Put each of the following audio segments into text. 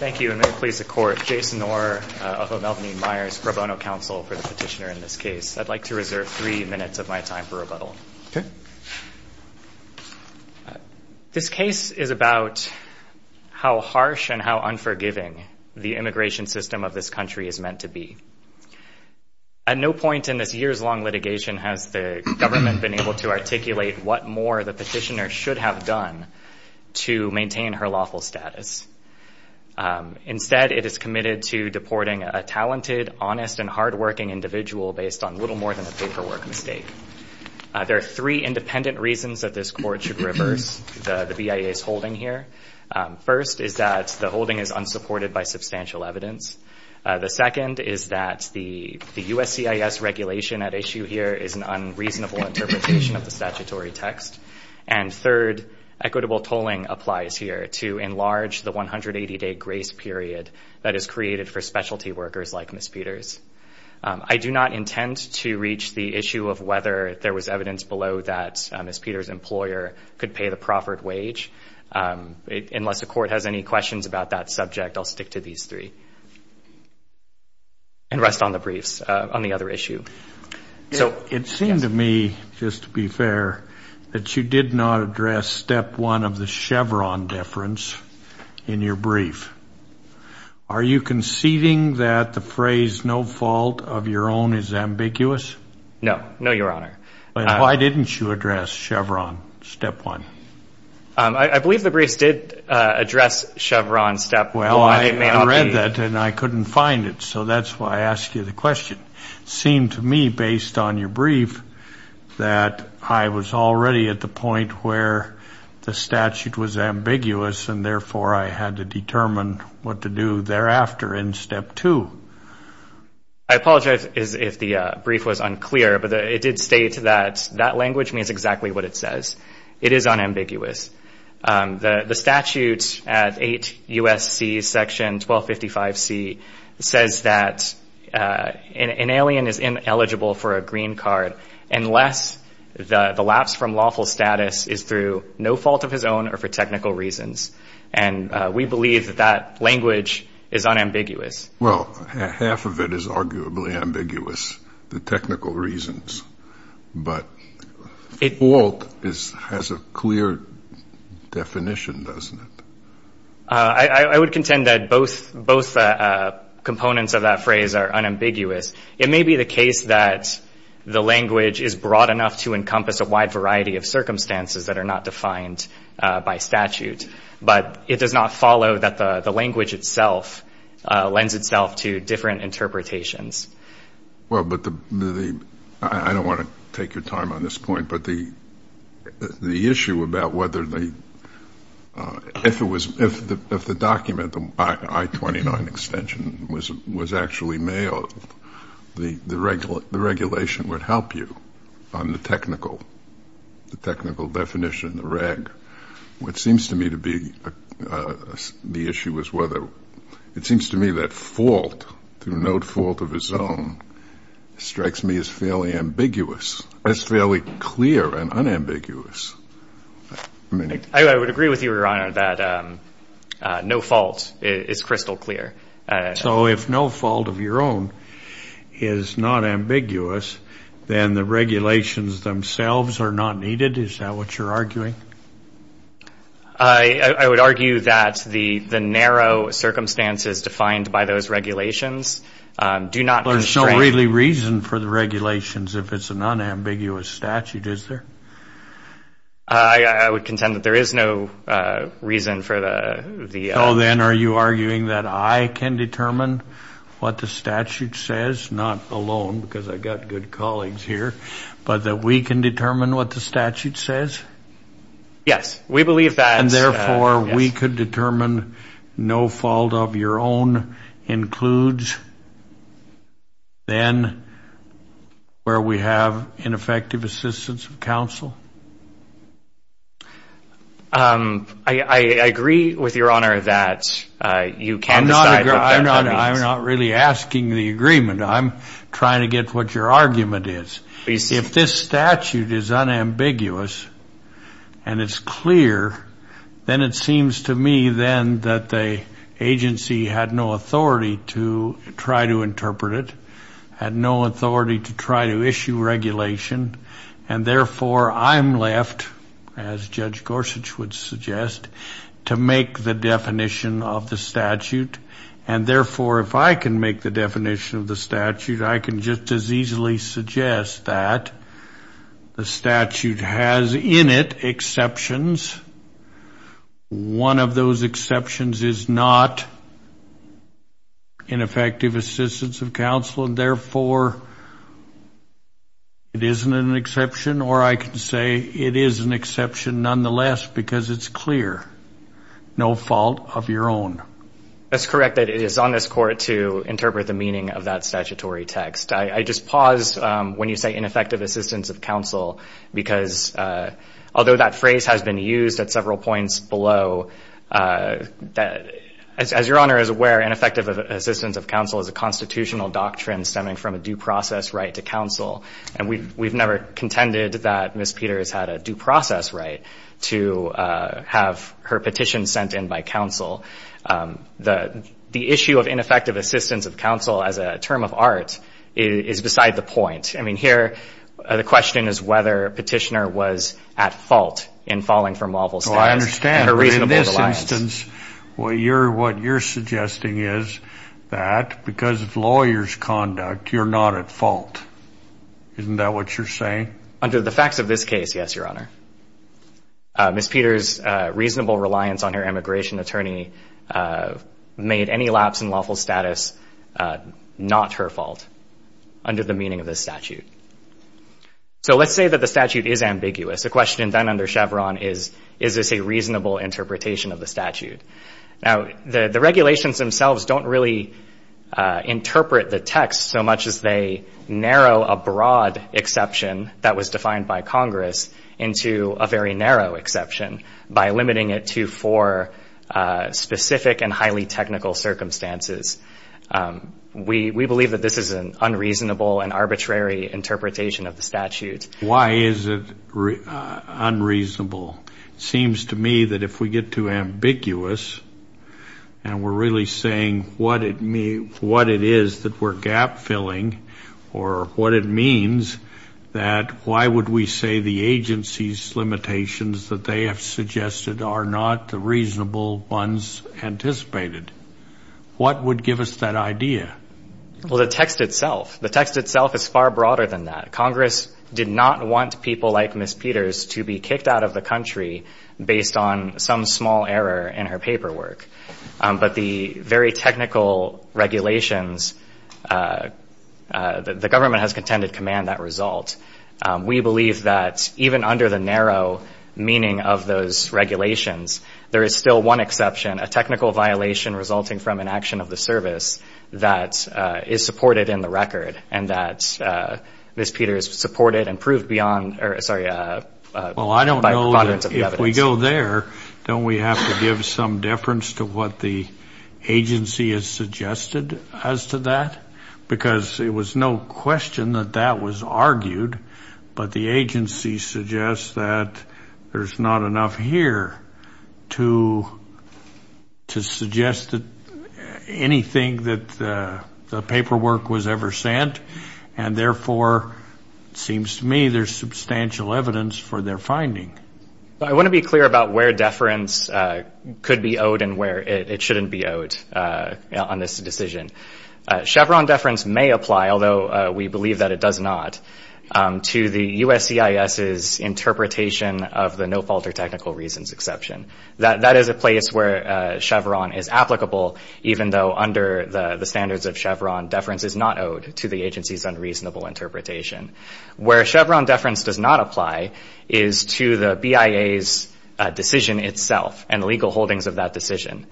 Thank you, and may it please the Court, Jason Orr of the Melvin E. Myers Pro Bono Council for the petitioner in this case. I'd like to reserve three minutes of my time for rebuttal. This case is about how harsh and how unforgiving the immigration system of this country is meant to be. At no point in this years-long litigation has the government been able to articulate what more the petitioner should have done to maintain her lawful status. Instead, it is committed to deporting a talented, honest, and hard-working individual based on little more than a paperwork mistake. There are three independent reasons that this Court should reverse the BIA's holding here. First is that the holding is unsupported by substantial evidence. The second is that the USCIS regulation at issue here is an unreasonable interpretation of the statutory text. And third, equitable tolling applies here to enlarge the 180-day grace period that is created for specialty workers like Ms. Peters. I do not intend to reach the issue of whether there was evidence below that Ms. Peters' employer could pay the proffered wage. Unless the Court has any questions about that subject, I'll stick to these three. And rest on the briefs on the other issue. It seemed to me, just to be fair, that you did not address step one of the Chevron deference in your brief. Are you conceding that the phrase, no fault of your own, is ambiguous? No. No, Your Honor. Then why didn't you address Chevron step one? I believe the briefs did address Chevron step one. Well, I read that and I couldn't find it, so that's why I asked you the question. It seemed to me, based on your brief, that I was already at the point where the statute was ambiguous and therefore I had to determine what to do thereafter in step two. I apologize if the brief was unclear, but it did state that that language means exactly what it says. It is unambiguous. The statute at 8 U.S.C. section 1255C says that an alien is ineligible for a green card unless the lapse from lawful status is through no fault of his own or for technical reasons. And we believe that that language is unambiguous. Well, half of it is arguably ambiguous, the technical reasons. But fault has a clear definition, doesn't it? I would contend that both components of that phrase are unambiguous. It may be the case that the language is broad enough to encompass a wide variety of circumstances that are not defined by statute, but it does not follow that the language itself lends itself to different interpretations. Well, I don't want to take your time on this point, but the issue about whether the document, the I-29 extension, was actually mailed, the regulation would help you on the technical definition, the reg. What seems to me to be the issue is whether it seems to me that fault, through no fault of his own, strikes me as fairly ambiguous, as fairly clear and unambiguous. I would agree with you, Your Honor, that no fault is crystal clear. So if no fault of your own is not ambiguous, then the regulations themselves are not needed? Is that what you're arguing? I would argue that the narrow circumstances defined by those regulations do not constrain. There's no really reason for the regulations if it's an unambiguous statute, is there? I would contend that there is no reason for the... So then are you arguing that I can determine what the statute says, not alone because I've got good colleagues here, but that we can determine what the statute says? Yes, we believe that. And therefore we could determine no fault of your own includes then where we have ineffective assistance of counsel? I agree with Your Honor that you can decide what that means. I'm not really asking the agreement. I'm trying to get what your argument is. If this statute is unambiguous and it's clear, then it seems to me then that the agency had no authority to try to interpret it, had no authority to try to issue regulation, and therefore I'm left, as Judge Gorsuch would suggest, to make the definition of the statute. And therefore if I can make the definition of the statute, I can just as easily suggest that the statute has in it exceptions. One of those exceptions is not ineffective assistance of counsel, and therefore it isn't an exception. Or I could say it is an exception nonetheless because it's clear, no fault of your own. That's correct. It is on this court to interpret the meaning of that statutory text. I just pause when you say ineffective assistance of counsel because although that phrase has been used at several points below, as Your Honor is aware, ineffective assistance of counsel is a constitutional doctrine stemming from a due process right to counsel. And we've never contended that Ms. Peters had a due process right to have her petition sent in by counsel. The issue of ineffective assistance of counsel as a term of art is beside the point. I mean, here the question is whether a petitioner was at fault in falling from lawful status. Well, I understand. But in this instance, what you're suggesting is that because of lawyer's conduct, you're not at fault. Isn't that what you're saying? Under the facts of this case, yes, Your Honor. Ms. Peters' reasonable reliance on her immigration attorney made any lapse in lawful status not her fault, under the meaning of this statute. So let's say that the statute is ambiguous. The question then under Chevron is, is this a reasonable interpretation of the statute? Now, the regulations themselves don't really interpret the text so much as they narrow a broad exception that was defined by Congress into a very narrow exception by limiting it to four specific and highly technical circumstances. We believe that this is an unreasonable and arbitrary interpretation of the statute. Why is it unreasonable? It seems to me that if we get too ambiguous and we're really saying what it is that we're gap-filling or what it means that why would we say the agency's limitations that they have suggested are not the reasonable ones anticipated? What would give us that idea? Well, the text itself. The text itself is far broader than that. Congress did not want people like Ms. Peters to be kicked out of the country based on some small error in her paperwork. But the very technical regulations, the government has contended command that result. We believe that even under the narrow meaning of those regulations, there is still one exception, a technical violation resulting from an action of the service that is supported in the record and that Ms. Peters supported and proved beyond, sorry, by preponderance of the evidence. Well, I don't know that if we go there, don't we have to give some deference to what the agency has suggested as to that? Because it was no question that that was argued, but the agency suggests that there's not enough here to suggest anything that the paperwork was ever sent. And therefore, it seems to me there's substantial evidence for their finding. I want to be clear about where deference could be owed and where it shouldn't be owed on this decision. Chevron deference may apply, although we believe that it does not, to the USCIS's interpretation of the no fault or technical reasons exception. That is a place where Chevron is applicable, even though under the standards of Chevron, deference is not owed to the agency's unreasonable interpretation. Where Chevron deference does not apply is to the BIA's decision itself and legal holdings of that decision.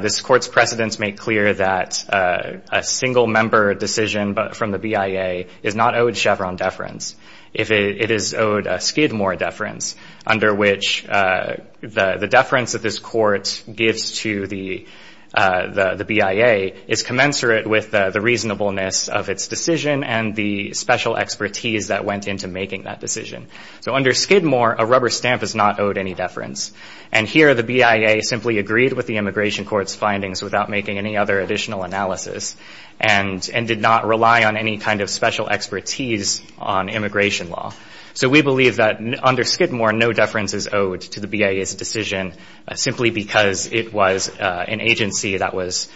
This court's precedents make clear that a single member decision from the BIA is not owed Chevron deference. It is owed a Skidmore deference, under which the deference that this court gives to the BIA is commensurate with the reasonableness of its decision and the special expertise that went into making that decision. So under Skidmore, a rubber stamp is not owed any deference. And here, the BIA simply agreed with the immigration court's findings without making any other additional analysis and did not rely on any kind of special expertise on immigration law. So we believe that under Skidmore, no deference is owed to the BIA's decision, simply because it was an agency that was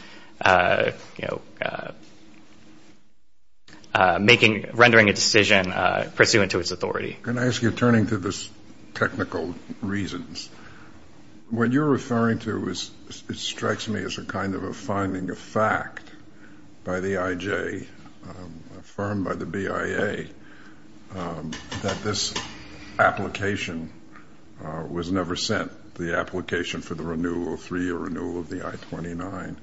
rendering a decision pursuant to its authority. Can I ask you, turning to the technical reasons, what you're referring to strikes me as a kind of a finding of fact by the IJ, affirmed by the BIA, that this application was never sent, the application for the renewal, three-year renewal of the I-29,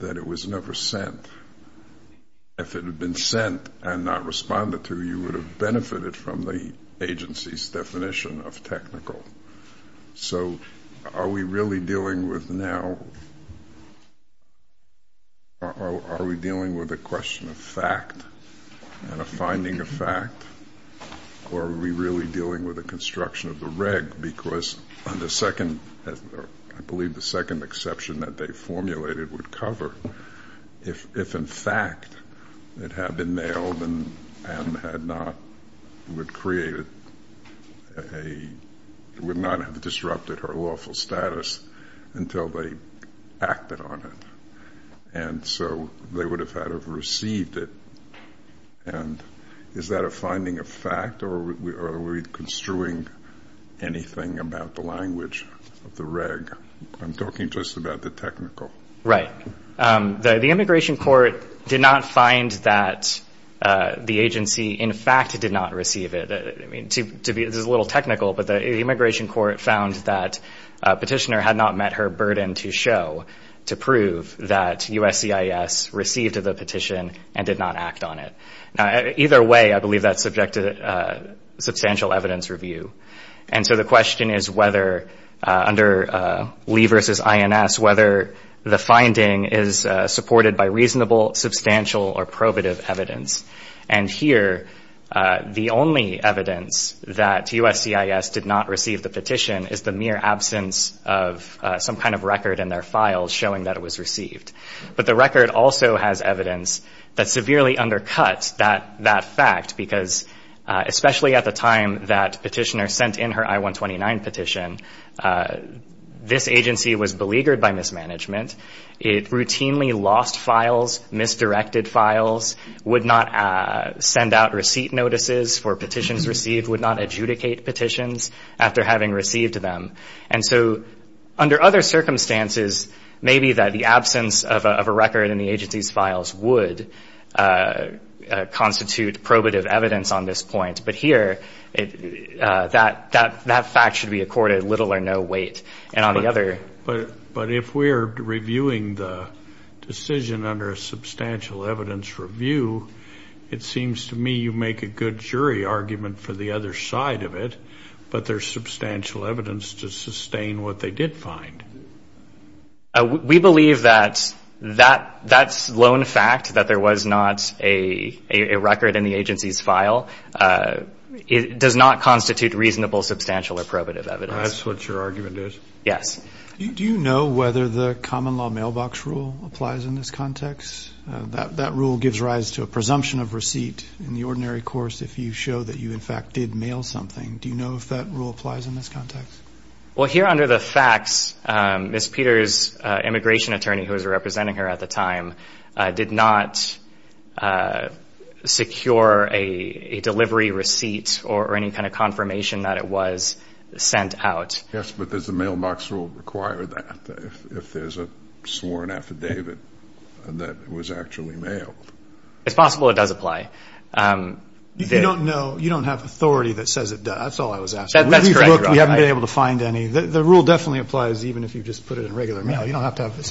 that it was never sent. If it had been sent and not responded to, you would have benefited from the agency's definition of technical. So are we really dealing with now, are we dealing with a question of fact and a finding of fact, or are we really dealing with the construction of the reg? Because the second, I believe the second exception that they formulated would cover, if in fact it had been mailed and had not, would create a, would not have disrupted her lawful status until they acted on it, and so they would have had to have received it. And is that a finding of fact, or are we construing anything about the language of the reg? I'm talking just about the technical. Right. The immigration court did not find that the agency, in fact, did not receive it. I mean, to be, this is a little technical, but the immigration court found that petitioner had not met her burden to show, to prove that USCIS received the petition and did not act on it. Now, either way, I believe that's subject to substantial evidence review. And so the question is whether, under Lee versus INS, whether the finding is supported by reasonable, substantial, or probative evidence. And here, the only evidence that USCIS did not receive the petition is the mere absence of some kind of record in their files showing that it was received. But the record also has evidence that severely undercuts that fact because, especially at the time that petitioner sent in her I-129 petition, this agency was beleaguered by mismanagement. It routinely lost files, misdirected files, would not send out receipt notices for petitions received, would not adjudicate petitions after having received them. And so under other circumstances, maybe that the absence of a record in the agency's files would constitute probative evidence on this point. But here, that fact should be accorded little or no weight. And on the other ‑‑ But if we're reviewing the decision under a substantial evidence review, it seems to me you make a good jury argument for the other side of it, but there's substantial evidence to sustain what they did find. We believe that that lone fact, that there was not a record in the agency's file, does not constitute reasonable, substantial, or probative evidence. That's what your argument is? Yes. Do you know whether the common law mailbox rule applies in this context? That rule gives rise to a presumption of receipt in the ordinary course if you show that you in fact did mail something. Do you know if that rule applies in this context? Well, here under the facts, Ms. Peters, immigration attorney who was representing her at the time, did not secure a delivery receipt or any kind of confirmation that it was sent out. Yes, but does the mailbox rule require that if there's a sworn affidavit that was actually mailed? It's possible it does apply. If you don't know, you don't have authority that says it does. That's all I was asking. That's correct. We haven't been able to find any. The rule definitely applies even if you just put it in regular mail. You don't have to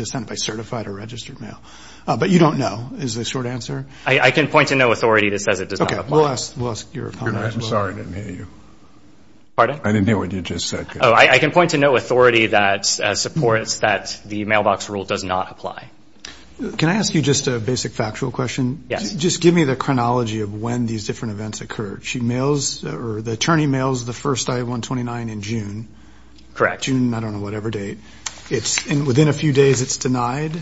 send it by certified or registered mail. But you don't know is the short answer? I can point to no authority that says it does not apply. Okay. We'll ask your comment as well. I'm sorry I didn't hear you. Pardon? I didn't hear what you just said. Oh, I can point to no authority that supports that the mailbox rule does not apply. Can I ask you just a basic factual question? Yes. Just give me the chronology of when these different events occurred. The attorney mails the first I-129 in June. Correct. June, I don't know, whatever date. And within a few days, it's denied?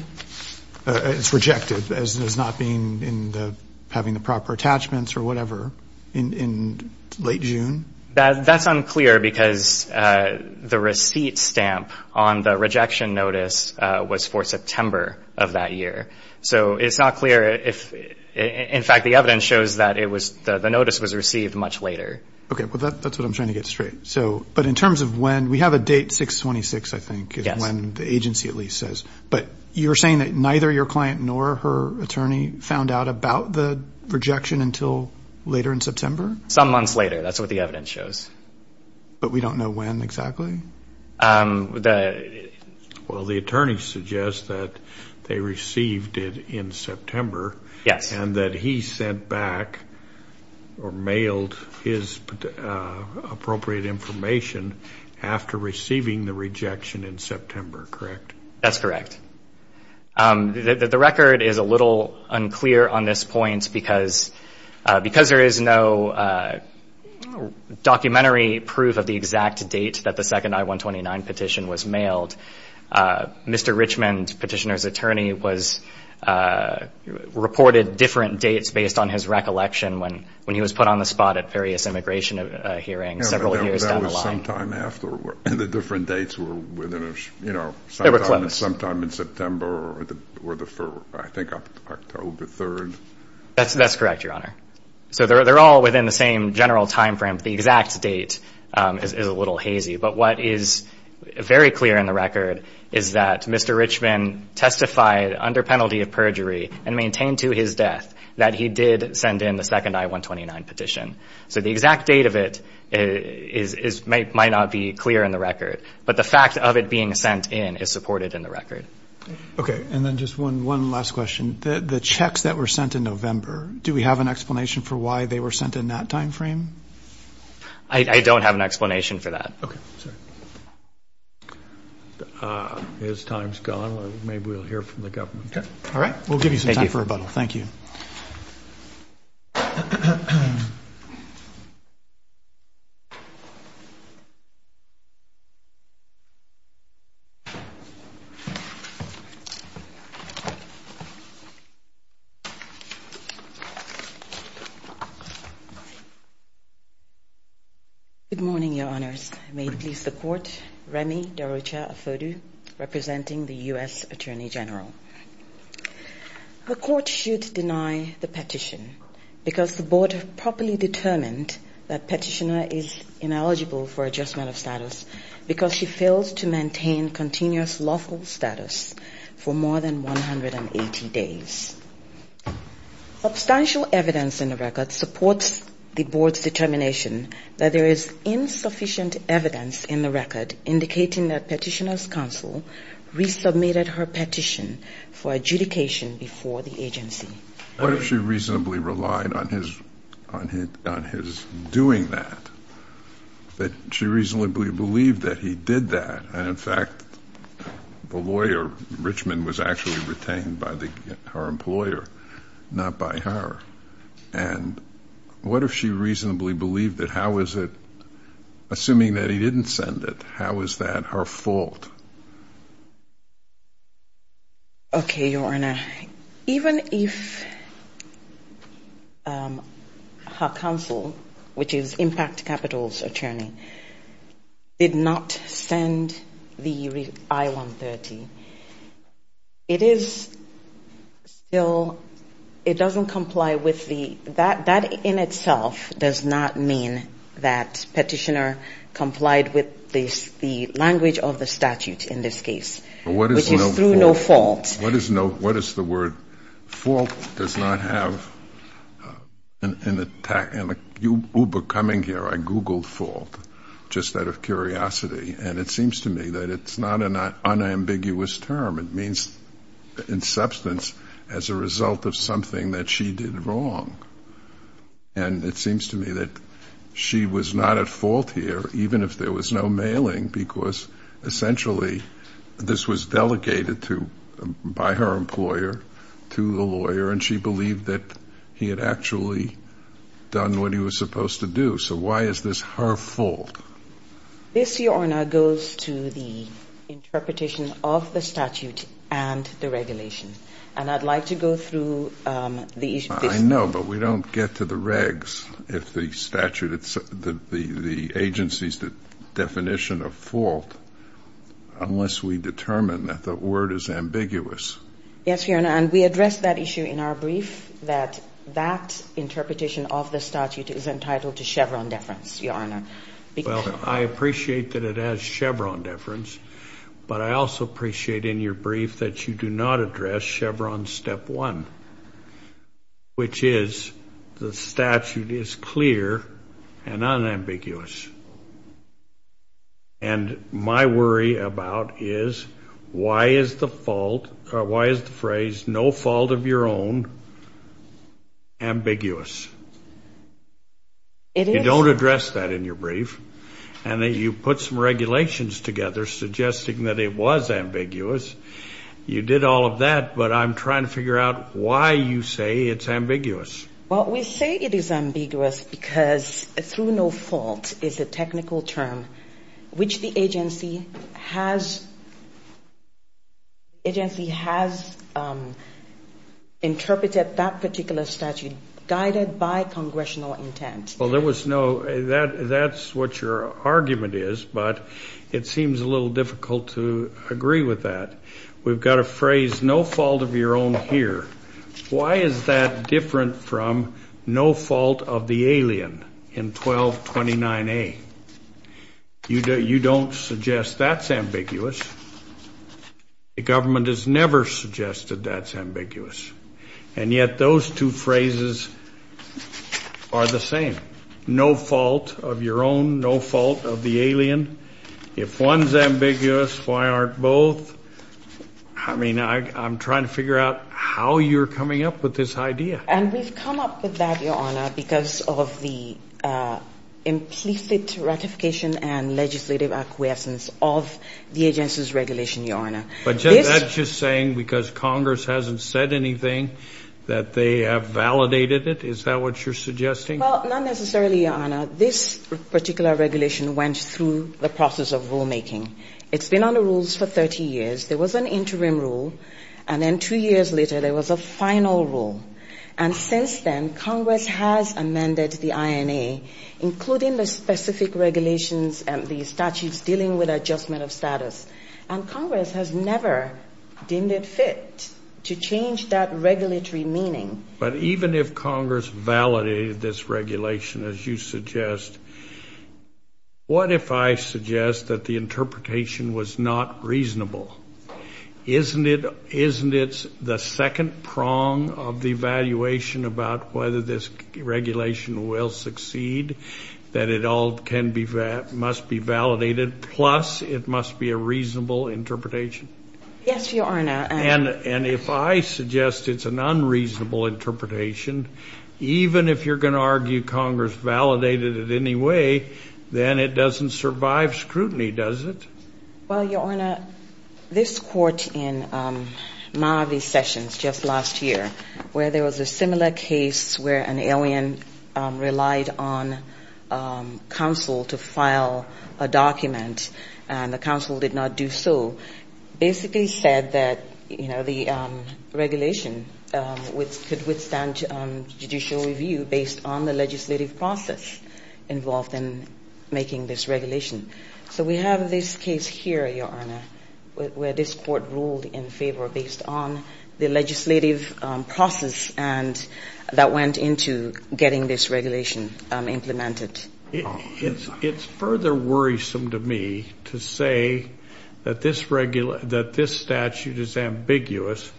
It's rejected as not having the proper attachments or whatever in late June? That's unclear because the receipt stamp on the rejection notice was for September of that year. So it's not clear if, in fact, the evidence shows that the notice was received much later. Okay. Well, that's what I'm trying to get straight. But in terms of when, we have a date, 6-26, I think, is when the agency at least says. But you're saying that neither your client nor her attorney found out about the rejection until later in September? Some months later. That's what the evidence shows. But we don't know when exactly? Well, the attorney suggests that they received it in September. Yes. And that he sent back or mailed his appropriate information after receiving the rejection in September, correct? That's correct. The record is a little unclear on this point because there is no documentary proof of the exact date that the second I-129 petition was mailed. Mr. Richmond, petitioner's attorney, reported different dates based on his recollection when he was put on the spot at various immigration hearings several years down the line. And the different dates were within a, you know, sometime in September or I think October 3rd. That's correct, Your Honor. So they're all within the same general time frame. The exact date is a little hazy. But what is very clear in the record is that Mr. Richmond testified under penalty of perjury and maintained to his death that he did send in the second I-129 petition. So the exact date of it might not be clear in the record. But the fact of it being sent in is supported in the record. Okay. And then just one last question. The checks that were sent in November, do we have an explanation for why they were sent in that time frame? I don't have an explanation for that. Okay. Sorry. His time's gone. Maybe we'll hear from the government. All right. We'll give you some time for rebuttal. Thank you. Good morning, Your Honors. May it please the Court. Remy Darucha-Afodu, representing the U.S. Attorney General. because the Board has properly determined that Petitioner is ineligible for adjustment of status because she fails to maintain continuous lawful status for more than 180 days. Substantial evidence in the record supports the Board's determination that there is insufficient evidence in the record indicating that Petitioner's counsel resubmitted her petition for adjudication before the agency. What if she reasonably relied on his doing that, that she reasonably believed that he did that, and, in fact, the lawyer, Richmond, was actually retained by her employer, not by her? And what if she reasonably believed that how is it, assuming that he didn't send it, how is that her fault? Okay, Your Honor, even if her counsel, which is Impact Capital's attorney, did not send the I-130, it is still, it doesn't comply with the, that in itself does not mean that Petitioner complied with the language of the statute. In this case, which is through no fault. And what if she reasonably, this was delegated to, by her employer, to the lawyer, and she believed that he had actually done what he was supposed to do, so why is this her fault? This, Your Honor, goes to the interpretation of the statute and the regulation, and I'd like to go through the issue. I know, but we don't get to the regs if the statute, the agency's definition of fault. Unless we determine that the word is ambiguous. Yes, Your Honor, and we addressed that issue in our brief, that that interpretation of the statute is entitled to Chevron deference, Your Honor. Well, I appreciate that it has Chevron deference, but I also appreciate in your brief that you do not address Chevron step one, which is the statute is clear and unambiguous. And my worry about is why is the fault, or why is the phrase no fault of your own ambiguous? You don't address that in your brief, and you put some regulations together suggesting that it was ambiguous. You did all of that, but I'm trying to figure out why you say it's ambiguous. Well, we say it is ambiguous because through no fault is a technical term, which the agency has interpreted that particular statute guided by congressional intent. Well, there was no, that's what your argument is, but it seems a little difficult to agree with that. We've got a phrase no fault of your own here. Why is that different from no fault of the alien in 1229A? You don't suggest that's ambiguous. The government has never suggested that's ambiguous. And yet those two phrases are the same. No fault of your own, no fault of the alien. If one's ambiguous, why aren't both? I mean, I'm trying to figure out how you're coming up with this idea. And we've come up with that, Your Honor, because of the implicit ratification and legislative acquiescence of the agency's regulation, Your Honor. But that's just saying because Congress hasn't said anything that they have validated it? Is that what you're suggesting? Well, not necessarily, Your Honor. This particular regulation went through the process of rulemaking. It's been under rules for 30 years. There was an interim rule, and then two years later there was a final rule. And since then, Congress has amended the INA, including the specific regulations and the statutes dealing with adjustment of status. And Congress has never deemed it fit to change that regulatory meaning. But even if Congress validated this regulation, as you suggest, what if I suggest that the interpretation was not reasonable? Isn't it the second prong of the evaluation about whether this regulation will succeed, that it all must be validated, plus it must be a reasonable interpretation? Yes, Your Honor. And if I suggest it's an unreasonable interpretation, even if you're going to argue Congress validated it anyway, then it doesn't survive scrutiny, does it? Well, Your Honor, this court in Marvey Sessions just last year, where there was a similar case where an alien relied on counsel to file a document, and the counsel did not do so, basically said that the regulation could withstand judicial review based on the legislative process involved in making this regulation. So we have this case here, Your Honor, where this court ruled in favor based on the legislative process that went into getting this regulation implemented. It's further worrisome to me to say that this statute is ambiguous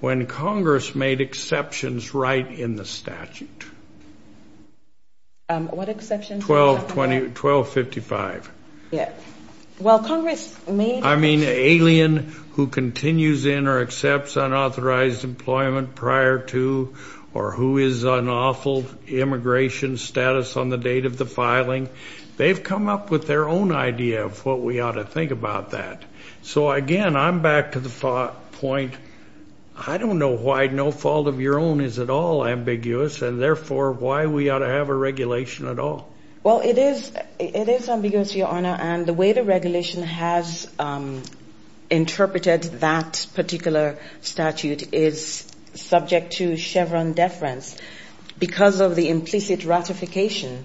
when Congress made exceptions right in the statute. What exceptions? 1255. I mean, alien who continues in or accepts unauthorized employment prior to, or who is on awful immigration status on the date of the filing. They've come up with their own idea of what we ought to think about that. So, again, I'm back to the thought point, I don't know why no fault of your own is at all ambiguous, and therefore I don't think that this statute is ambiguous, Your Honor, and therefore why we ought to have a regulation at all. Well, it is, it is ambiguous, Your Honor, and the way the regulation has interpreted that particular statute is subject to Chevron deference because of the implicit ratification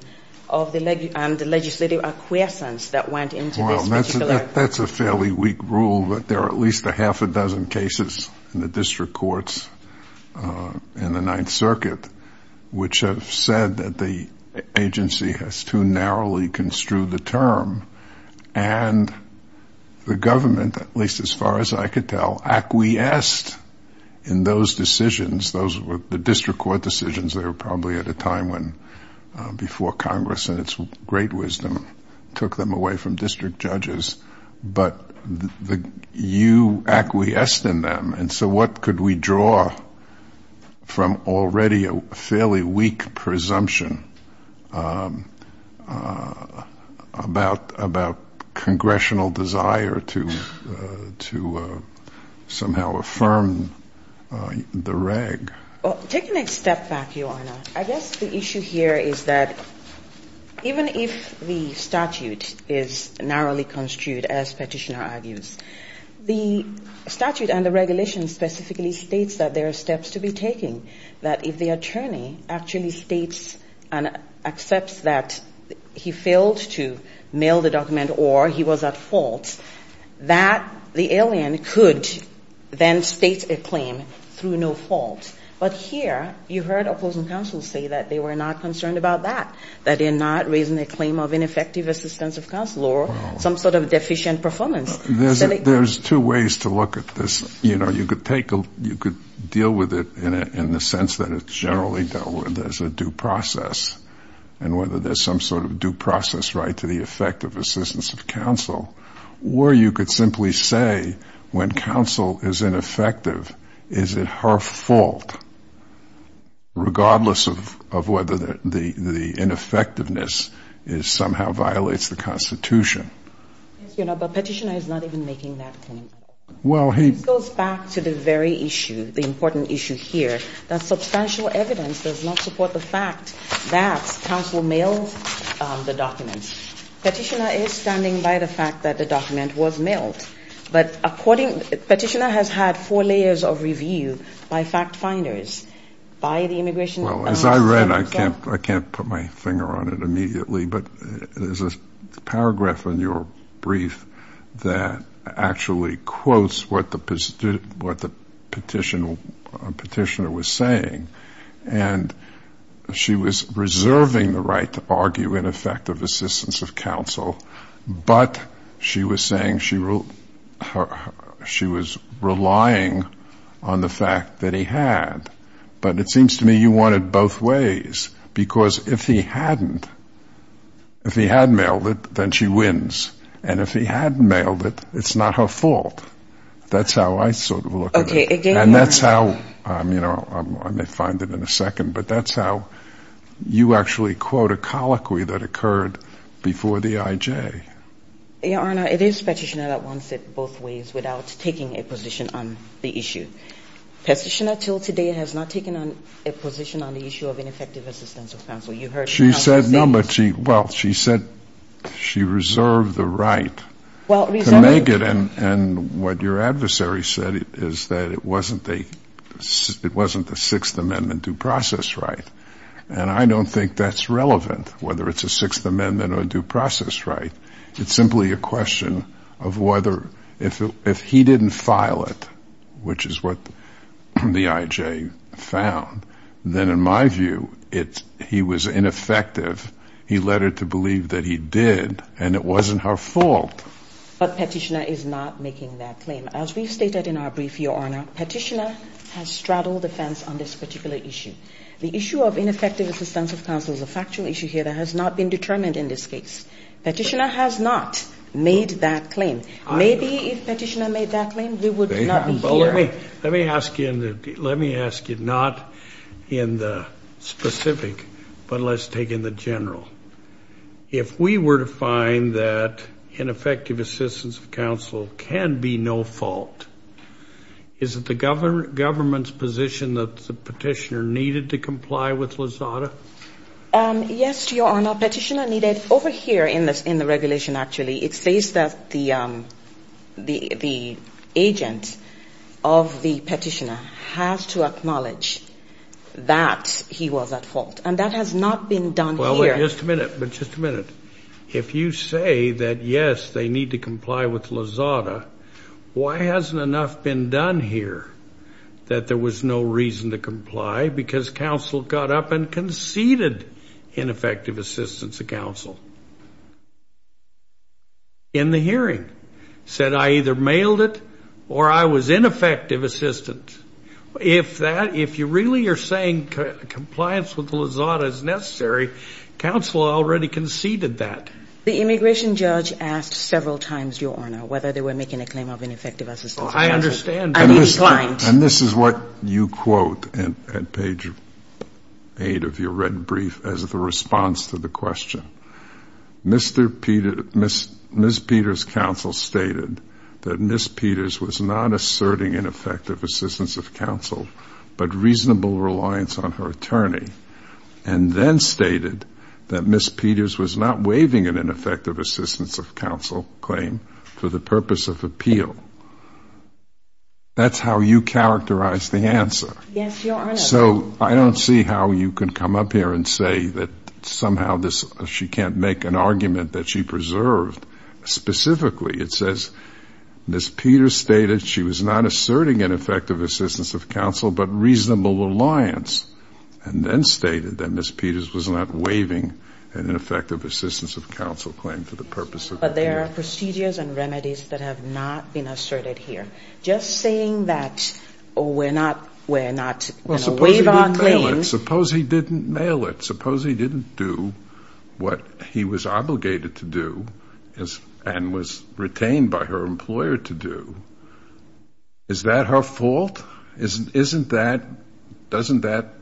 of the legislative acquiescence that went into this particular statute. Well, that's a fairly weak rule, but there are at least a half a dozen cases in the district courts in the Ninth Circuit, which are not subject to Chevron deference. Which have said that the agency has too narrowly construed the term, and the government, at least as far as I could tell, acquiesced in those decisions. Those were the district court decisions that were probably at a time when, before Congress in its great wisdom, took them away from district judges. But you acquiesced in them. And so what could we draw from already a fairly weak presumption about Congressional desire to somehow affirm the reg? Well, taking a step back, Your Honor, I guess the issue here is that even if the statute is narrowly construed, as Petitioner argues, the statute and the regulation are not subject to Chevron deference. The statute and the regulation specifically states that there are steps to be taken, that if the attorney actually states and accepts that he failed to mail the document or he was at fault, that the alien could then state a claim through no fault. But here, you heard opposing counsel say that they were not concerned about that, that they're not raising a claim of ineffective assistance of counsel or some sort of deficient performance. Well, there's two ways to look at this. You could deal with it in the sense that it's generally dealt with as a due process, and whether there's some sort of due process right to the effect of assistance of counsel. Or you could simply say, when counsel is ineffective, is it her fault, regardless of whether the ineffectiveness somehow violates the Constitution. Yes, Your Honor, but Petitioner is not even making that claim. Well, he goes back to the very issue, the important issue here, that substantial evidence does not support the fact that counsel mailed the document. Petitioner is standing by the fact that the document was mailed. But Petitioner has had four layers of review by fact-finders, by the immigration... Well, as I read, I can't put my finger on it immediately. But there's a paragraph in your brief that actually quotes what the Petitioner was saying. And she was reserving the right to argue ineffective assistance of counsel, but she was saying she was relying on the fact that he had. But it seems to me you want it both ways, because if he hadn't, if he had mailed it, then she wins. And if he hadn't mailed it, it's not her fault. That's how I sort of look at it. And that's how, you know, I may find it in a second, but that's how you actually quote a colloquy that occurred before the I.J. Your Honor, it is Petitioner that wants it both ways without taking a position on the issue. Petitioner till today has not taken a position on the issue of ineffective assistance of counsel. You heard the counsel say... She said no, but she, well, she said she reserved the right to make it. And what your adversary said is that it wasn't the Sixth Amendment due process right. And I don't think that's relevant, whether it's a Sixth Amendment or due process right. It's simply a question of whether, if he didn't file it, which is what the I.J. found, then in my view he was ineffective. He led her to believe that he did, and it wasn't her fault. But Petitioner is not making that claim. As we stated in our brief, your Honor, Petitioner has straddled the fence on this particular issue. Petitioner has not made that claim. Maybe if Petitioner made that claim, we would not be here. Let me ask you, not in the specific, but let's take in the general. If we were to find that ineffective assistance of counsel can be no fault, is it the government's position that Petitioner needed to comply with LAZADA? Yes, your Honor. Petitioner needed, over here in the regulation actually, it says that the agent of the Petitioner has to acknowledge that he was at fault. And that has not been done here. Well, wait just a minute. If you say that, yes, they need to comply with LAZADA, why hasn't enough been done here that there was no reason to comply because counsel got up and conceded ineffective assistance to counsel? In the hearing, said I either mailed it or I was ineffective assistance. If that, if you really are saying compliance with LAZADA is necessary, counsel already conceded that. The immigration judge asked several times, your Honor, whether they were making a claim of ineffective assistance of counsel. Well, I understand. And he declined. And this is what you quote at page 8 of your red brief as the response to the question. Ms. Peters' counsel stated that Ms. Peters was not asserting ineffective assistance of counsel, but reasonable reliance on her attorney, and then stated that Ms. Peters was not waiving an ineffective assistance of counsel claim for the purpose of appeal. That's how you characterize the answer. Yes, your Honor. So I don't see how you can come up here and say that somehow this, she can't make an argument that she preserved specifically. It says Ms. Peters stated she was not asserting ineffective assistance of counsel claim for the purpose of appeal. But there are procedures and remedies that have not been asserted here. Just saying that we're not, we're not going to waive our claim. Well, suppose he didn't mail it. Suppose he didn't do what he was obligated to do and was retained by her employer to do. Is that her fault? Isn't that, doesn't that,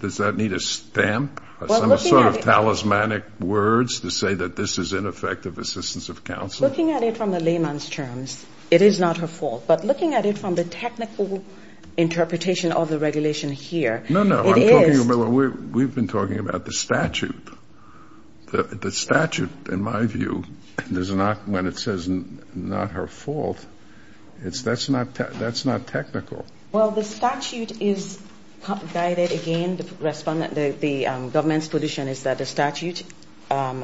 does that need a stamp, some sort of talismanic words to say that this is ineffective assistance of counsel? Looking at it from the layman's terms, it is not her fault. But looking at it from the technical interpretation of the regulation here, it is. No, no, I'm talking about, we've been talking about the statute. The statute, in my view, does not, when it says not her fault, that's not technical. Well, the statute is guided, again, the government's position is that the statute, the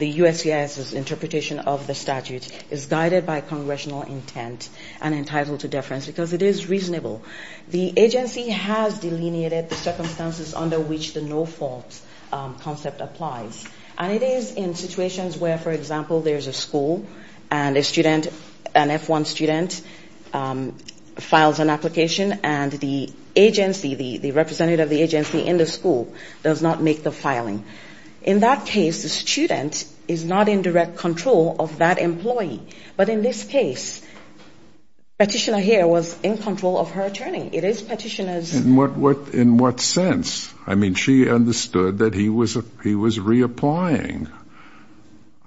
USCIS's interpretation of the statute is guided by congressional intent and entitled to deference because it is reasonable. The agency has delineated the circumstances under which the no fault concept applies. And it is in situations where, for example, there's a school and a student, an F1 student files an application and the agency, the representative of the agency in the school does not make the filing. In that case, the student is not in direct control of that employee. But in this case, Petitioner here was in control of her attorney. It is Petitioner's. In what sense? I mean, she understood that he was reapplying.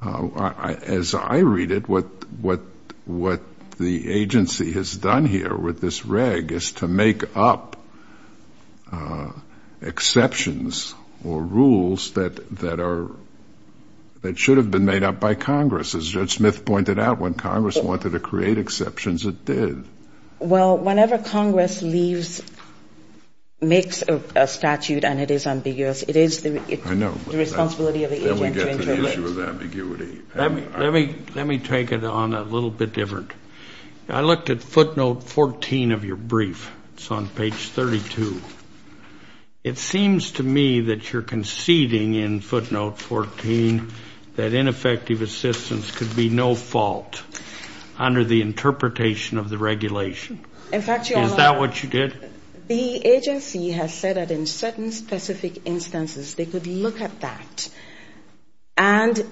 As I read it, what the agency has done here with this reg is to make up exceptions or rules that are, that should have been made up by Congress. As Judge Smith pointed out, when Congress wanted to create exceptions, it did. Well, whenever Congress leaves, makes a statute and it is ambiguous, it is the responsibility of the agency to interrelate. I know. Then we get to the issue of ambiguity. Let me take it on a little bit different. I looked at footnote 14 of your brief. It's on page 32. It seems to me that you're conceding in footnote 14 that ineffective assistance could be no fault under the interpretation of the regulation. In fact, Your Honor. Is that what you did? The agency has said that in certain specific instances they could look at that. And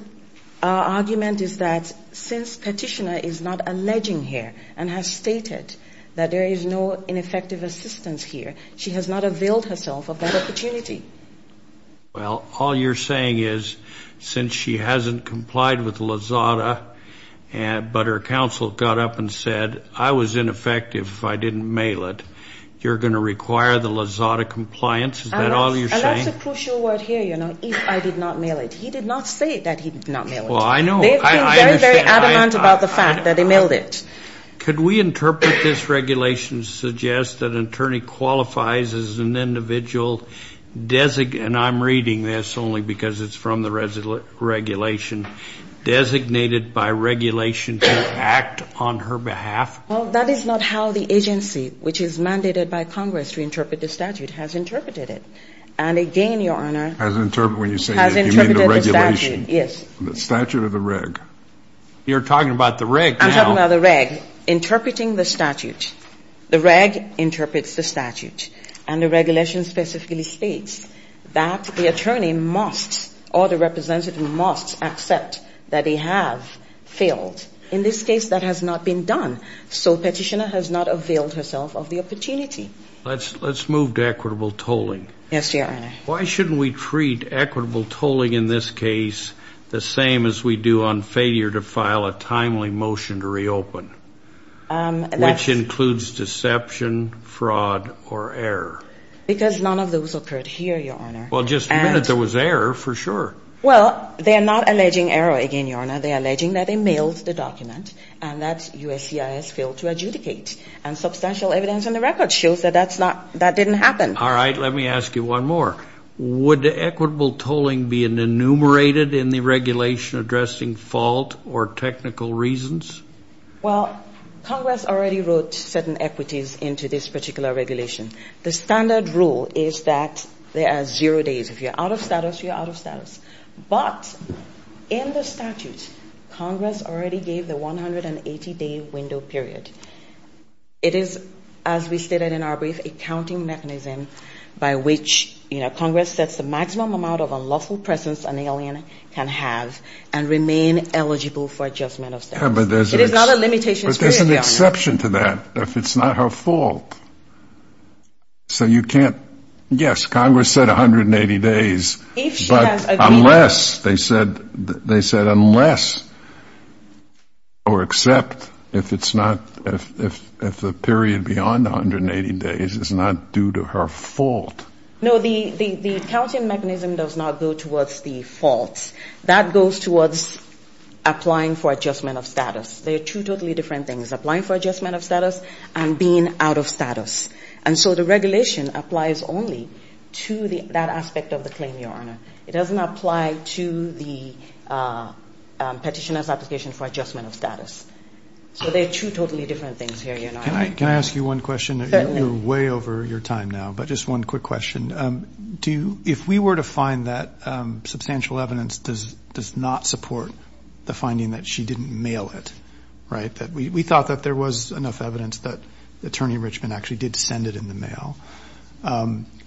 our argument is that since Petitioner is not alleging here and has stated that there is no ineffective assistance here, she has not availed herself of that opportunity. Well, all you're saying is since she hasn't complied with LAZADA but her counsel got up and said, I was ineffective if I didn't mail it, you're going to require the LAZADA compliance? Is that all you're saying? And that's a crucial word here, you know, if I did not mail it. He did not say that he did not mail it. Well, I know. They've been very, very adamant about the fact that he mailed it. Could we interpret this regulation to suggest that an attorney qualifies as an individual and I'm reading this only because it's from the regulation, designated by regulation to act on her behalf? Well, that is not how the agency, which is mandated by Congress to interpret the statute, has interpreted it. And again, Your Honor, has interpreted the statute. The statute or the reg? You're talking about the reg now. I'm talking about the reg. Interpreting the statute. The reg interprets the statute. And the regulation specifically states that the attorney must or the representative must accept that they have failed. In this case, that has not been done. So the petitioner has not availed herself of the opportunity. Let's move to equitable tolling. Yes, Your Honor. Why shouldn't we treat equitable tolling in this case the same as we do on failure to file a timely motion to reopen, which includes deception, fraud, or error? Because none of those occurred here, Your Honor. Well, just the minute there was error, for sure. Well, they are not alleging error again, Your Honor. They are alleging that they mailed the document and that USCIS failed to adjudicate. And substantial evidence in the record shows that that didn't happen. All right. Let me ask you one more. Would equitable tolling be enumerated in the regulation addressing fault or technical reasons? Well, Congress already wrote certain equities into this particular regulation. The standard rule is that there are zero days. If you're out of status, you're out of status. But in the statute, Congress already gave the 180-day window period. It is, as we stated in our brief, a counting mechanism by which, you know, Congress sets the maximum amount of unlawful presence an alien can have and remain eligible for adjustment of status. It is not a limitations period, Your Honor. But there's an exception to that if it's not her fault. So you can't yes, Congress said 180 days. But unless they said unless or except if it's not, if the period beyond 180 days is not due to her fault. No, the counting mechanism does not go towards the fault. That goes towards applying for adjustment of status. They are two totally different things, applying for adjustment of status and being out of status. And so the regulation applies only to that aspect of the claim, Your Honor. It doesn't apply to the petitioner's application for adjustment of status. So they are two totally different things here, Your Honor. Can I ask you one question? Certainly. You're way over your time now, but just one quick question. If we were to find that substantial evidence does not support the finding that she didn't mail it, right, that we thought that there was enough evidence that Attorney Richmond actually did send it in the mail,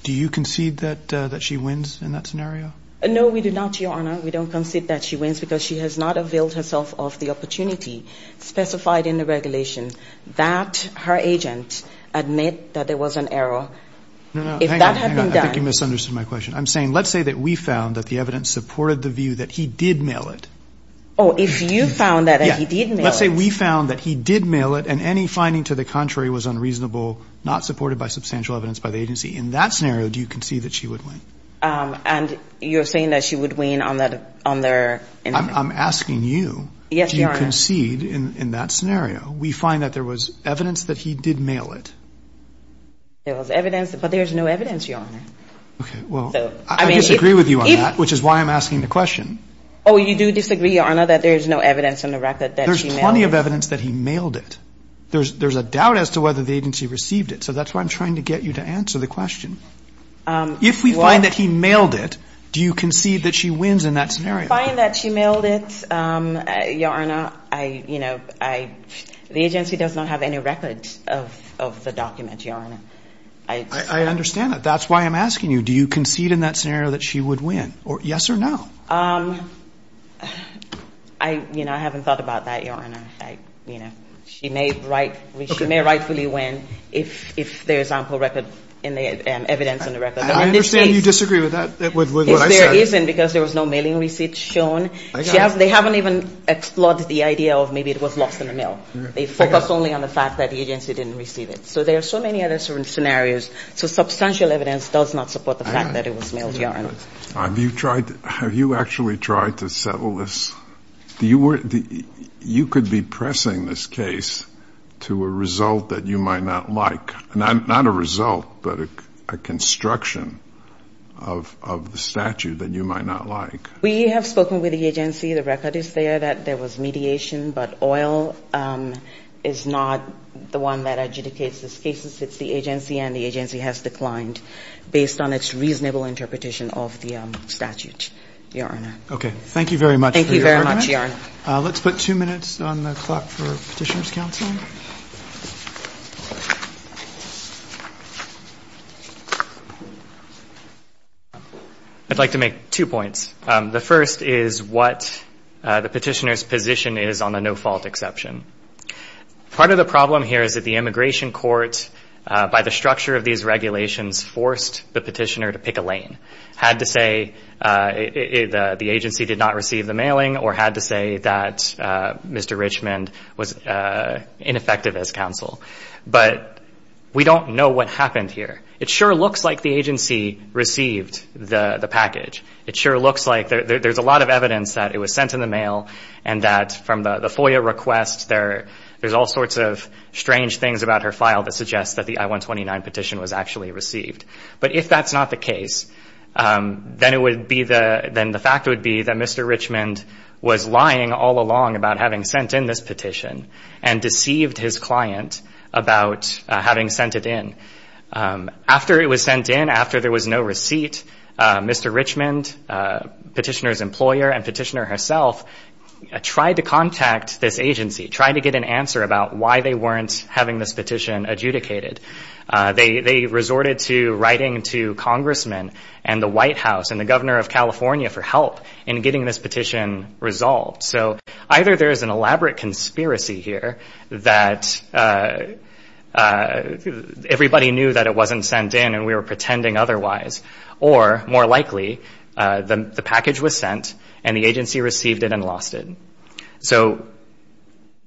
do you concede that she wins in that scenario? No, we do not, Your Honor. We don't concede that she wins because she has not availed herself of the opportunity specified in the regulation that her agent admit that there was an error. If that had been done. Hang on, hang on. I think you misunderstood my question. I'm saying let's say that we found that the evidence supported the view that he did mail it. Oh, if you found that he did mail it. Let's say we found that he did mail it and any finding to the contrary was unreasonable, not supported by substantial evidence by the agency. In that scenario, do you concede that she would win? And you're saying that she would win on that, on their. I'm asking you. Yes, Your Honor. Do you concede in that scenario? We find that there was evidence that he did mail it. There was evidence, but there's no evidence, Your Honor. Okay. Well, I disagree with you on that, which is why I'm asking the question. Oh, you do disagree, Your Honor, that there's no evidence in the record that she mailed it. There's plenty of evidence that he mailed it. There's a doubt as to whether the agency received it, so that's why I'm trying to get you to answer the question. If we find that he mailed it, do you concede that she wins in that scenario? If we find that she mailed it, Your Honor, I, you know, I, the agency does not have any records of the document, Your Honor. I understand that. That's why I'm asking you, do you concede in that scenario that she would win? Yes or no? I, you know, I haven't thought about that, Your Honor. I, you know, she may rightfully win if there's ample record in the evidence in the record. I understand you disagree with that, with what I said. If there isn't, because there was no mailing receipt shown, they haven't even explored the idea of maybe it was lost in the mail. They focus only on the fact that the agency didn't receive it. So there are so many other scenarios. Have you tried to, have you actually tried to settle this? You were, you could be pressing this case to a result that you might not like. Not a result, but a construction of the statute that you might not like. We have spoken with the agency. The record is there that there was mediation, but oil is not the one that adjudicates these cases. It's the agency, and the agency has declined based on its reasonable interpretation of the statute, Your Honor. Okay. Thank you very much for your argument. Thank you very much, Your Honor. Let's put two minutes on the clock for Petitioner's Counsel. I'd like to make two points. The first is what the Petitioner's position is on the no-fault exception. Part of the problem here is that the immigration court, by the structure of these regulations, forced the Petitioner to pick a lane. Had to say the agency did not receive the mailing, or had to say that Mr. Richmond was ineffective as counsel. But we don't know what happened here. It sure looks like the agency received the package. It sure looks like, there's a lot of evidence that it was sent in the mail, and that from the FOIA request, there's all sorts of strange things about her file that suggests that the I-129 petition was actually received. But if that's not the case, then the fact would be that Mr. Richmond was lying all along about having sent in this petition, and deceived his client about having sent it in. After it was sent in, after there was no receipt, Mr. Richmond, Petitioner's employer and Petitioner herself, tried to contact this agency, tried to get an answer about why they weren't having this petition adjudicated. They resorted to writing to congressmen and the White House and the governor of California for help in getting this petition resolved. So, either there's an elaborate conspiracy here that everybody knew that it wasn't sent in and we were pretending otherwise, or, more likely, the package was sent and the agency received it and lost it. So,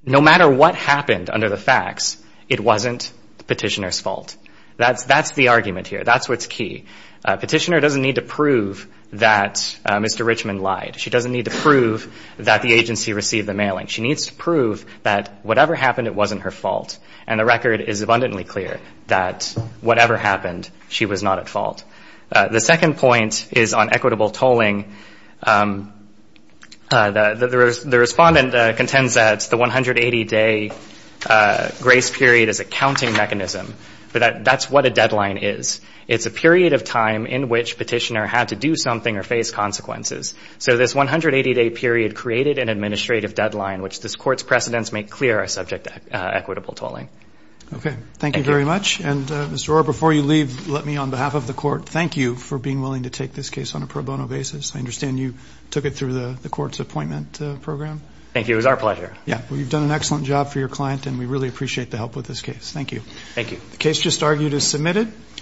no matter what happened under the facts, it wasn't Petitioner's fault. That's the argument here. That's what's key. Petitioner doesn't need to prove that Mr. Richmond lied. She doesn't need to prove that the agency received the mailing. She needs to prove that whatever happened, it wasn't her fault. And the record is abundantly clear that whatever happened, she was not at fault. The second point is on equitable tolling. The respondent contends that the 180-day grace period is a counting mechanism, but that's what a deadline is. It's a period of time in which Petitioner had to do something or face consequences. So, this 180-day period created an administrative deadline, which this court's precedents make clear are subject to equitable tolling. Okay. Thank you very much. And, Mr. Orr, before you leave, let me, on behalf of the court, thank you for being willing to take this case on a pro bono basis. I understand you took it through the court's appointment program. Thank you. It was our pleasure. Yeah. Well, you've done an excellent job for your client, and we really appreciate the help with this case. Thank you. Thank you. The case just argued is submitted.